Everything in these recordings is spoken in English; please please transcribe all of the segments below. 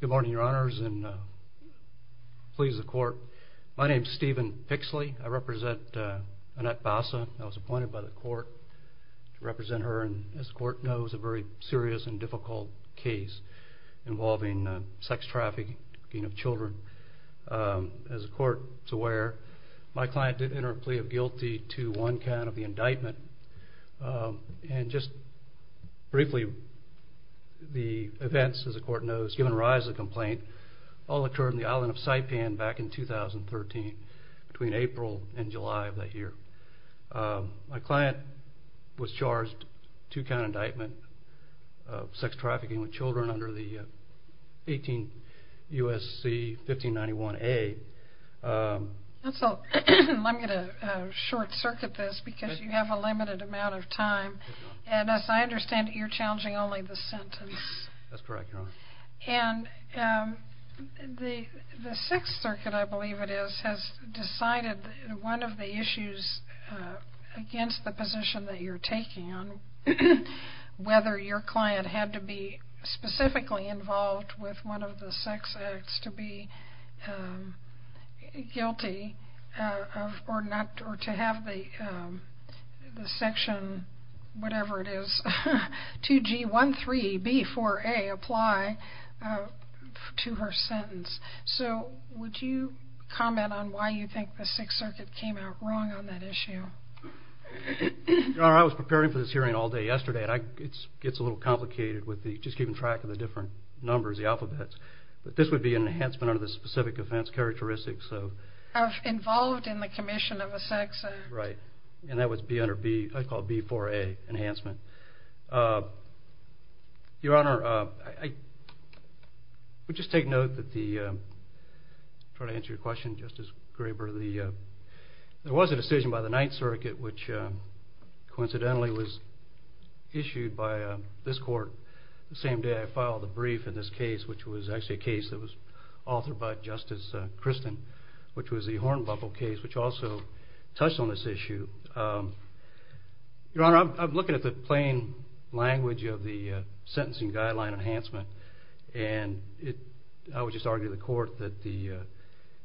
Good morning, your honors, and please the court. My name is Stephen Fixley. I represent Annette Basa. I was appointed by the court to represent her, and as the court knows, a very serious and difficult case involving sex trafficking of children. As the court is aware, my client did enter a plea of guilty to one count of the indictment, and just briefly the events, as the court knows, given rise to the complaint, all occurred in the island of Saipan back in 2013, between April and July of that year. My client was charged two count indictment of sex trafficking with children under the 18 U.S.C. 1591A. I'm going to short circuit this because you have a limited amount of time, and as I understand it, you're challenging only the sentence. That's correct, your honor. And the sex circuit, I believe it is, has decided one of the issues against the position that you're taking on, whether your client had to be specifically involved with one of the sex acts to be guilty or to have the section, whatever it is, 2G13B4A apply to her sentence. So would you comment on why you think the sex circuit came out wrong on that issue? Your honor, I was preparing for this hearing all day yesterday, and it gets a little complicated with just keeping track of the different numbers, the alphabets, but this would be an enhancement under the specific offense characteristics of... Of involved in the commission of a sex act. Right, and that was B4A enhancement. Your honor, I would just take note that the... I'm trying to answer your question, Justice Graber. There was a decision by the Ninth Circuit, which coincidentally was issued by this court the same day I filed the brief in this case, which was actually a case that was authored by Justice Christen, which was the Hornbuckle case, which also touched on this issue. Your honor, I'm looking at the plain language of the sentencing guideline enhancement, and I would just argue to the court that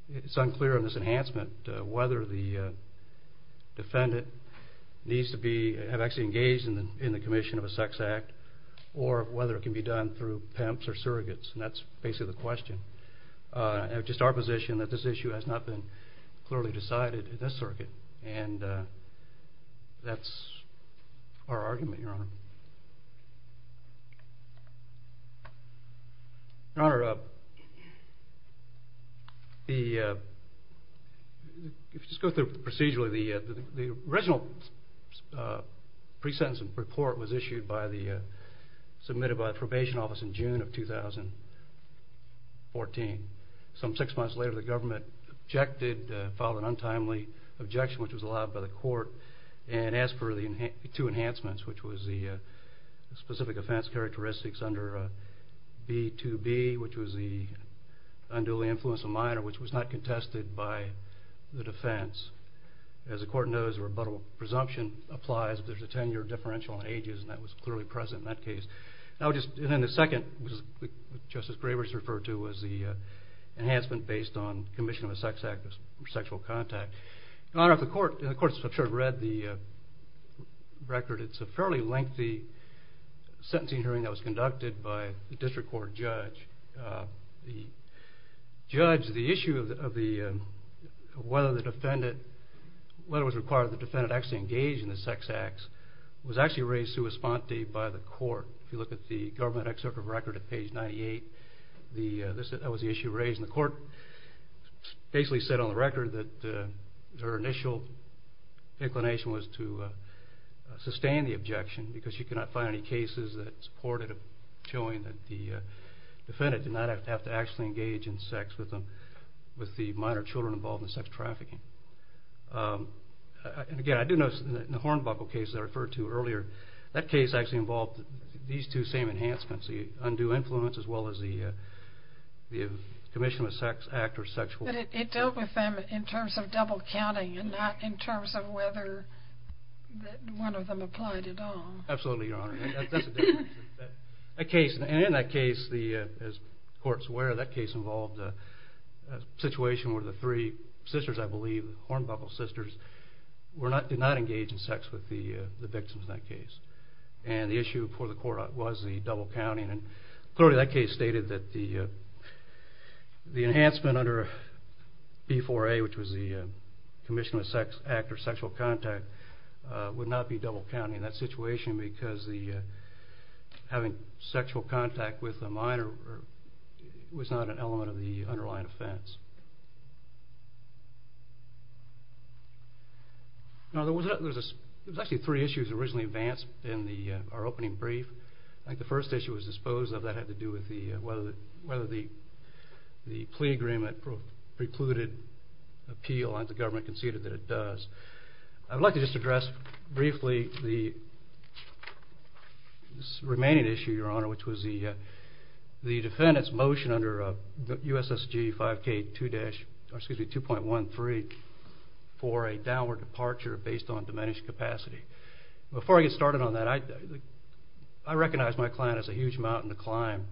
it's unclear on this enhancement whether the defendant needs to be... in the commission of a sex act, or whether it can be done through pimps or surrogates, and that's basically the question. It's just our position that this issue has not been clearly decided at this circuit, and that's our argument, your honor. Your honor, if you just go through procedurally, the original pre-sentence report was issued by the... submitted by the probation office in June of 2014. Some six months later, the government objected, filed an untimely objection, which was allowed by the court, and asked for the two enhancements, which was the specific offense characteristics under B-2-B, which was the unduly influence of minor, which was not contested by the defense. As the court knows, a rebuttable presumption applies if there's a 10-year differential on ages, and that was clearly present in that case. And then the second, which Justice Grabers referred to, was the enhancement based on commission of a sex act or sexual contact. Your honor, the court read the record. It's a fairly lengthy sentencing hearing that was conducted by the district court judge. The judge, the issue of whether the defendant, whether it was required of the defendant to actually engage in the sex acts, was actually raised sua sponte by the court. If you look at the government excerpt of record at page 98, that was the issue raised, and the court basically said on the record that their initial inclination was to sustain the objection, because you cannot find any cases that supported showing that the defendant did not have to actually engage in sex with the minor children involved in sex trafficking. And again, I do notice in the Hornbuckle case that I referred to earlier, that case actually involved these two same enhancements, the undue influence as well as the commission of a sex act or sexual... But it dealt with them in terms of double counting and not in terms of whether one of them applied at all. Absolutely, your honor. That's a different case. And in that case, as the court's aware, that case involved a situation where the three sisters, I believe, Hornbuckle sisters, did not engage in sex with the victims in that case. And the issue for the court was the case stated that the enhancement under B4A, which was the commission of a sex act or sexual contact, would not be double counted in that situation, because having sexual contact with a minor was not an element of the underlying offense. Now there was actually three issues originally advanced in our opening brief. I think the plea agreement precluded appeal and the government conceded that it does. I'd like to just address briefly the remaining issue, your honor, which was the defendant's motion under USSG 5K2.13 for a downward departure based on diminished capacity. Before I get started on that, I recognize my client has a huge mountain to climb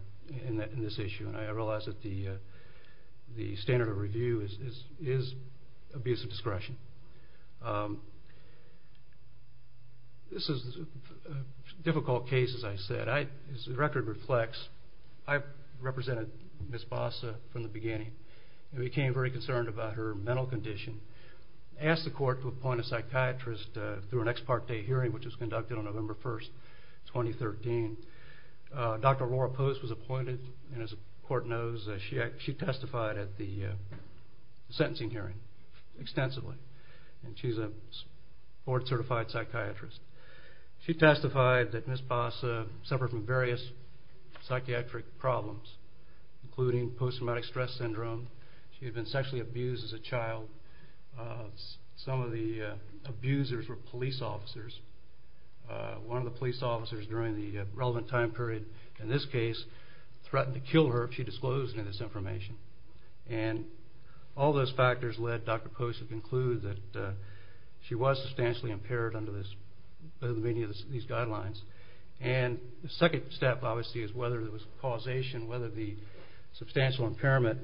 in this issue. And I realize that the standard of review is abuse of discretion. This is a difficult case, as I said. As the record reflects, I represented Ms. Bossa from the beginning. I became very concerned about her mental condition. I asked the court to appoint a psychiatrist through an ex parte hearing, which was conducted on November 1, 2013. Dr. Laura Post was appointed, and as the court knows, she testified at the sentencing hearing extensively. And she's a board certified psychiatrist. She testified that Ms. Bossa suffered from various psychiatric problems, including post-traumatic stress syndrome. She had been sexually abused as a child. Some of the abusers were police officers. One of the police officers during the relevant time period in this case threatened to kill her if she disclosed any of this information. And all those factors led Dr. Post to conclude that she was substantially impaired under many of these guidelines. And the second step, obviously, is whether there was causation, whether the substantial impairment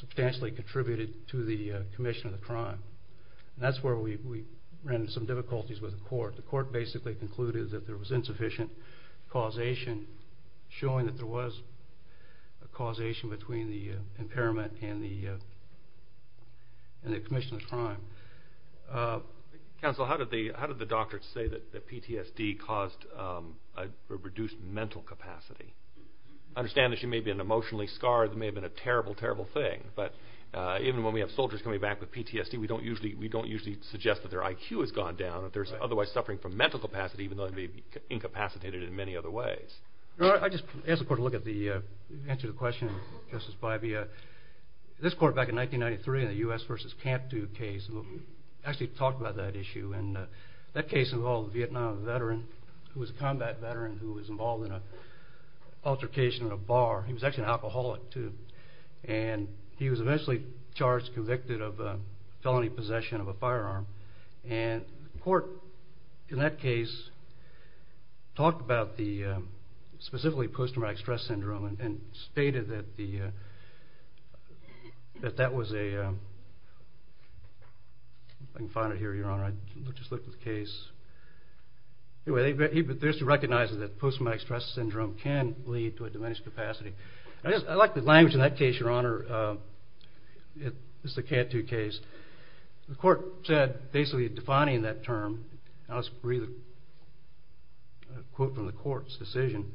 substantially contributed to the commission of the crime. And that's where we ran into some difficulties with the court. The court basically concluded that there was insufficient causation, showing that there was a causation between the impairment and the commission of the crime. Counsel, how did the doctor say that PTSD caused a reduced mental capacity? I understand that she may have been emotionally scarred. It may have been a terrible, terrible thing. But even when we have soldiers coming back with PTSD, we don't usually suggest that their IQ has gone down, if they're otherwise suffering from mental capacity, even though they may be incapacitated in many other ways. I just asked the court to look at the answer to the question, Justice Bybee. This court back in 1993 in the U.S. versus Camp 2 case actually talked about that issue. And that case involved a Vietnam veteran who was a combat veteran who was involved in an altercation in a bar. He was actually an alcoholic, too. And he was eventually charged, convicted of felony possession of a firearm. And the court in that case talked about specifically post-traumatic stress syndrome and stated that that was a... I can find it here, Your Honor. I just looked at the case. Anyway, they recognized that post-traumatic stress syndrome can lead to a diminished capacity. I like the language in that case, Your Honor. It's the Camp 2 case. The court said, basically defining that term, and I'll just read a quote from the court's decision,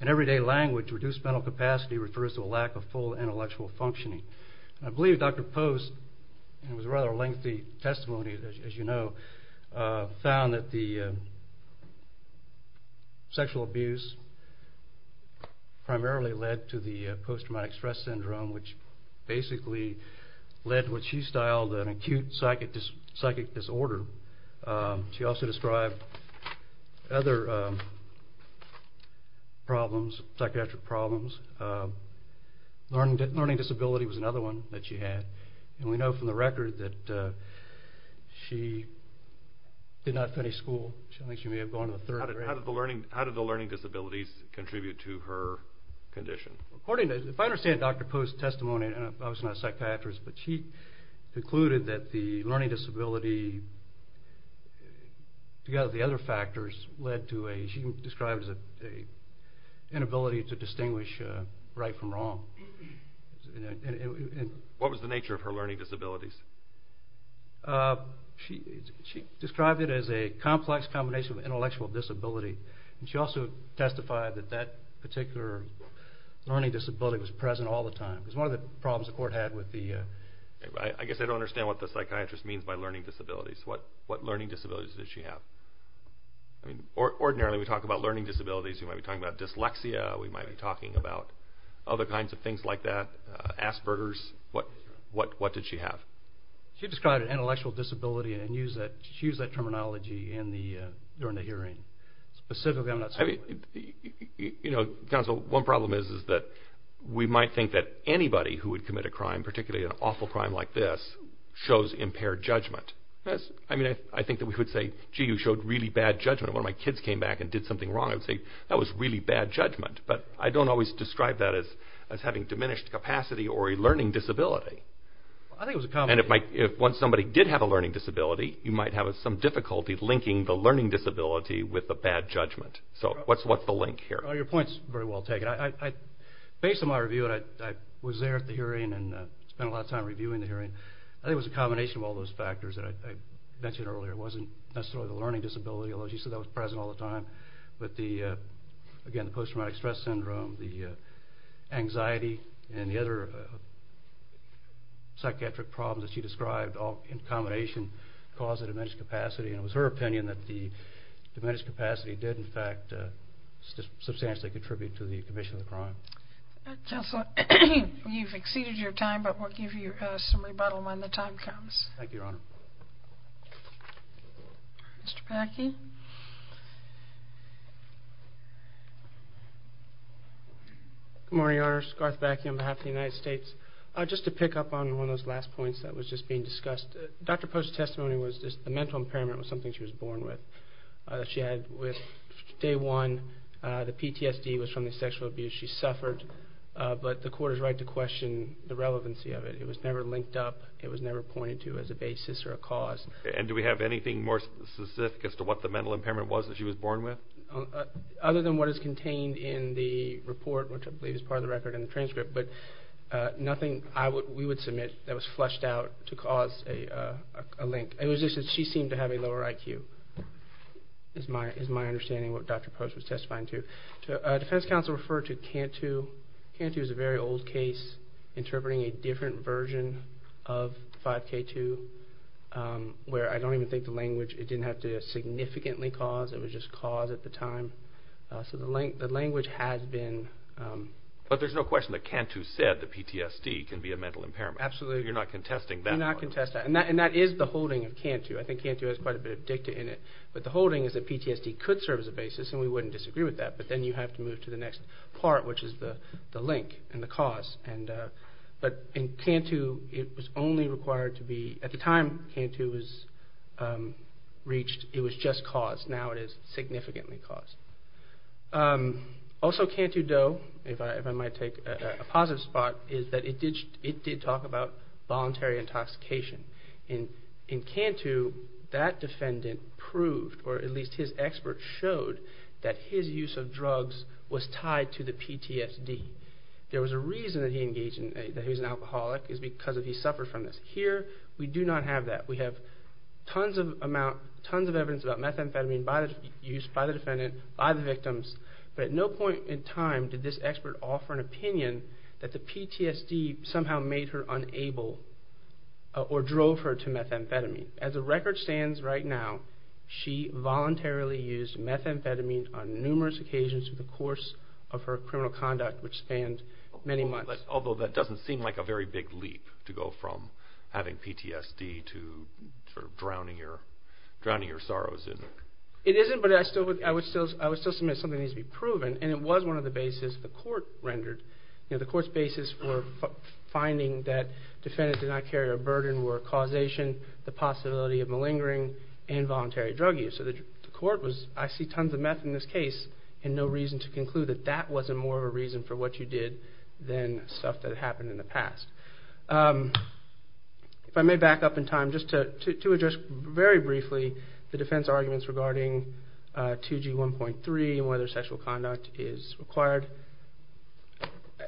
in everyday language, reduced mental capacity refers to a lack of full intellectual functioning. I believe Dr. Post, and it was a rather lengthy testimony, as you know, found that the sexual abuse primarily led to the post-traumatic stress syndrome, which basically led to what she styled an acute psychic disorder. She also described other psychiatric problems. Learning disability was another one that she had. And we know from the record that she did not finish school. I think she may have gone to the third grade. How did the learning disabilities contribute to her condition? If I understand Dr. Post's testimony, and I was not a psychiatrist, but she concluded that the learning disability, together with the other factors, led to what she described as an inability to distinguish right from wrong. What was the nature of her learning disabilities? She described it as a complex combination of intellectual disability. She also testified that that particular learning disability was present all the time. It was one of the problems the court had with the... I guess I don't understand what the psychiatrist means by learning disabilities. What learning disabilities did she have? I mean, ordinarily we talk about learning disabilities. We might be talking about dyslexia. We might be talking about other kinds of things like that, Asperger's. What did she have? She described an intellectual disability, and she used that terminology during the hearing. Specifically, I'm not certain... Counsel, one problem is that we might think that anybody who would commit a crime, particularly an awful crime like this, shows impaired judgment. I mean, I think that we could say, gee, you showed really bad judgment. When my kids came back and did something wrong, I would say, that was really bad judgment. But I don't always describe that as having diminished capacity or a learning disability. And if once somebody did have a learning disability, you might have some difficulty linking the learning disability with the bad judgment. So what's the link here? Your point's very well taken. Based on my review, and I was there at the hearing and spent a lot of time reviewing the hearing, I think it was a combination of all those factors that I mentioned earlier. It wasn't necessarily the learning disability, although she said that was present all the time, but, again, the post-traumatic stress syndrome, the anxiety, and the other psychiatric problems that she described all in combination cause a diminished capacity. And it was her opinion that the diminished capacity did, in fact, substantially contribute to the commission of the crime. Counselor, you've exceeded your time, but we'll give you some rebuttal when the time comes. Thank you, Your Honor. Mr. Bakke. Good morning, Your Honor. Scott Bakke on behalf of the United States. Just to pick up on one of those last points that was just being discussed, Dr. Post's testimony was just the mental impairment was something she was born with. She had, with day one, the PTSD was from the sexual abuse she suffered, but the court is right to question the relevancy of it. It was never linked up. It was never pointed to as a basis or a cause. And do we have anything more specific as to what the mental impairment was that she was born with? Other than what is contained in the report, which I believe is part of the record in the transcript, but nothing we would submit that was flushed out to cause a link. It was just that she seemed to have a lower IQ is my understanding of what Dr. Post was testifying to. Defense counsel referred to Cantu. Cantu is a very old case interpreting a different version of 5K2 where I don't even think the language, it didn't have to significantly cause, it was just cause at the time. So the language has been. But there's no question that Cantu said the PTSD can be a mental impairment. Absolutely. You're not contesting that. We're not contesting that. And that is the holding of Cantu. I think Cantu has quite a bit of dicta in it. But the holding is that PTSD could serve as a basis, and we wouldn't disagree with that, but then you have to move to the next part, which is the link and the cause. But in Cantu, it was only required to be, at the time Cantu was reached, it was just cause. Now it is significantly cause. Also, Cantu Doe, if I might take a positive spot, is that it did talk about voluntary intoxication. In Cantu, that defendant proved, or at least his expert showed, that his use of drugs was tied to the PTSD. There was a reason that he engaged in, that he was an alcoholic, is because he suffered from this. Here, we do not have that. We have tons of evidence about methamphetamine by the defendant, by the victims, but at no point in time did this expert offer an opinion that the PTSD somehow made her unable, or drove her to methamphetamine. As the record stands right now, she voluntarily used methamphetamine on numerous occasions through the course of her criminal conduct, which spanned many months. Although that doesn't seem like a very big leap to go from having PTSD to drowning your sorrows in. It isn't, but I would still submit something needs to be proven, and it was one of the bases the court rendered. The court's basis for finding that the defendant did not carry a burden were causation, the possibility of malingering, and voluntary drug use. So the court was, I see tons of meth in this case, and no reason to conclude that that wasn't more of a reason for what you did than stuff that happened in the past. If I may back up in time, just to address very briefly the defense arguments regarding 2G1.3, and whether sexual conduct is required.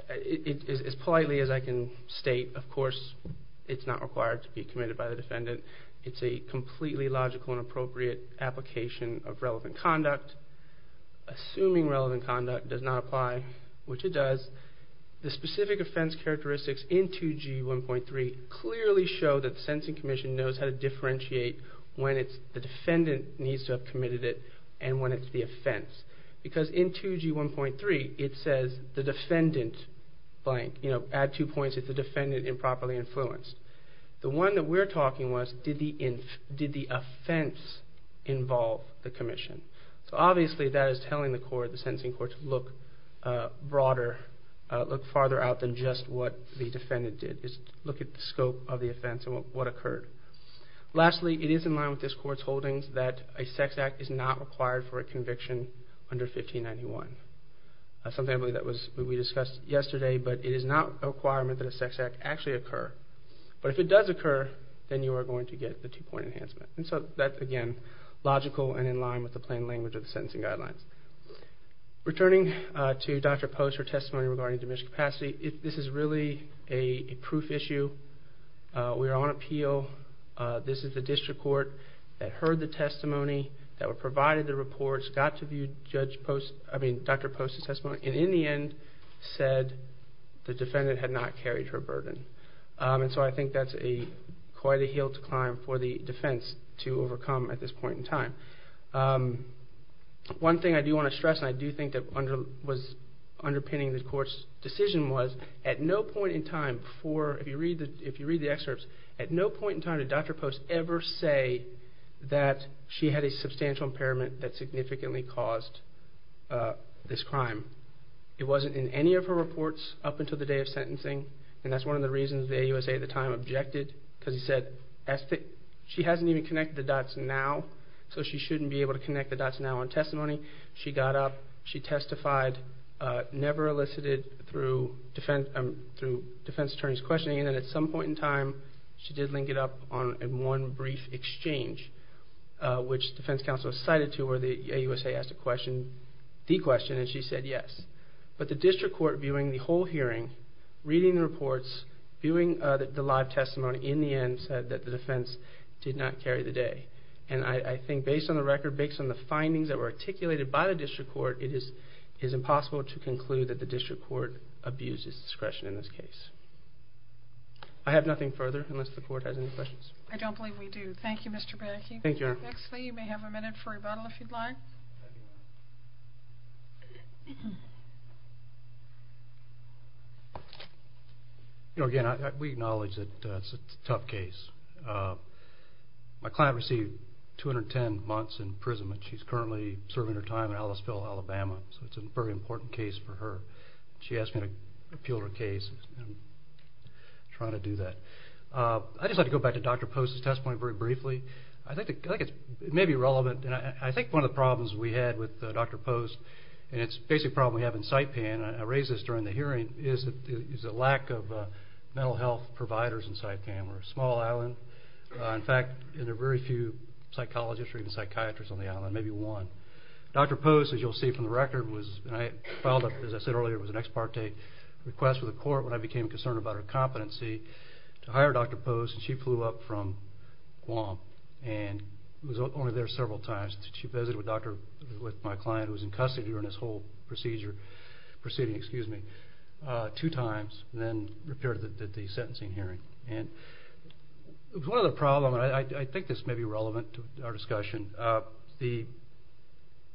As politely as I can state, of course, it's not required to be committed by the defendant. It's a completely logical and appropriate application of relevant conduct. Assuming relevant conduct does not apply, which it does, the specific offense characteristics in 2G1.3 clearly show that the Sensing Commission knows how to differentiate when the defendant needs to have committed it, and when it's the offense. Because in 2G1.3, it says the defendant, blank, add two points, if the defendant improperly influenced. The one that we're talking was, did the offense involve the commission? So obviously, that is telling the court, the sentencing court, to look broader, look farther out than just what the defendant did. Look at the scope of the offense and what occurred. Lastly, it is in line with this court's holdings that a sex act is not required for a conviction under 1591. Something that we discussed yesterday, but it is not a requirement that a sex act actually occur. But if it does occur, then you are going to get the two-point enhancement. And so that, again, logical and in line with the plain language of the sentencing guidelines. Returning to Dr. Post's testimony regarding diminished capacity, this is really a proof issue. We are on appeal. This is the district court that heard the testimony, that provided the reports, got to view Dr. Post's testimony, and in the end said the defendant had not carried her burden. And so I think that is quite a hill to climb for the defense to overcome at this point in time. One thing I do want to stress, and I do think that was underpinning the court's decision was, at no point in time, if you read the excerpts, at no point in time did Dr. Post ever say that she had a substantial impairment that significantly caused this crime. It wasn't in any of her reports up until the day of sentencing. And that is one of the reasons the AUSA at the time objected, because she hasn't even connected the dots now, so she shouldn't be able to connect the dots now on testimony. She got up, she testified, never elicited through defense attorney's questioning, and at some point in time she did link it up on one brief exchange, which defense counsel cited to where the AUSA asked the question, and she said yes. But the district court, viewing the whole hearing, reading the reports, viewing the live testimony, in the end said that the defense did not carry the day. And I think based on the record, based on the findings that were articulated by the district court, it is impossible to conclude that the district court abused its discretion in this case. I have nothing further, unless the court has any questions. I don't believe we do. Thank you, Mr. Baraki. Thank you, Your Honor. Next thing, you may have a minute for rebuttal, if you'd like. You know, again, we acknowledge that it's a tough case. My client received 210 months in prison, and she's currently serving her time in Ellisville, Alabama, so it's a very important case for her. She asked me to appeal her case, and I'm trying to do that. I'd just like to go back to Dr. Post's testimony very briefly. I think it may be relevant, and I think one of the problems we had with Dr. Post, and it's a basic problem we have in Sitepan, and I raised this during the hearing, is the lack of mental health providers in Sitepan. We're a small island. In fact, there are very few psychologists or even psychiatrists on the island, maybe one. Dr. Post, as you'll see from the record, filed, as I said earlier, it was an ex parte request with the court when I became concerned about her competency, to hire Dr. Post, and she flew up from Guam, and was only there several times. She visited with my client, who was in custody during this whole proceeding, two times, and then repaired it at the sentencing hearing. One other problem, and I think this may be relevant to our discussion, the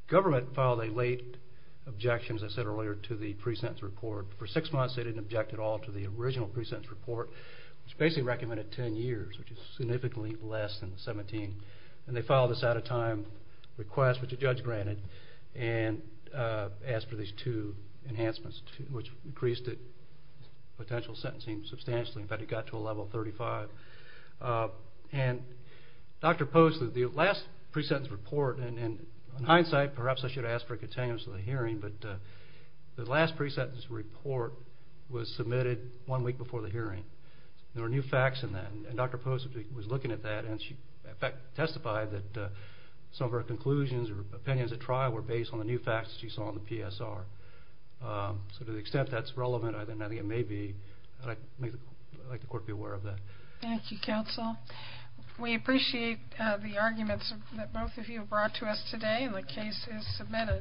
government filed a late objection, as I said earlier, to the pre-sentence report. For six months, they didn't object at all to the original pre-sentence report, which basically recommended 10 years, which is significantly less than 17. And they filed this out-of-time request, which the judge granted, and asked for these two enhancements, which increased the potential sentencing substantially. In fact, it got to a level of 35. And Dr. Post, the last pre-sentence report, and in hindsight, perhaps I should ask for a continuance of the hearing, but the last pre-sentence report was submitted one week before the hearing. There were new facts in that, and Dr. Post was looking at that, and she testified that some of her conclusions or opinions at trial were based on the new facts she saw in the PSR. So to the extent that's relevant, I think it may be, I'd like the court to be aware of that. Thank you, counsel. We appreciate the arguments that both of you have brought to us today, and the case is submitted.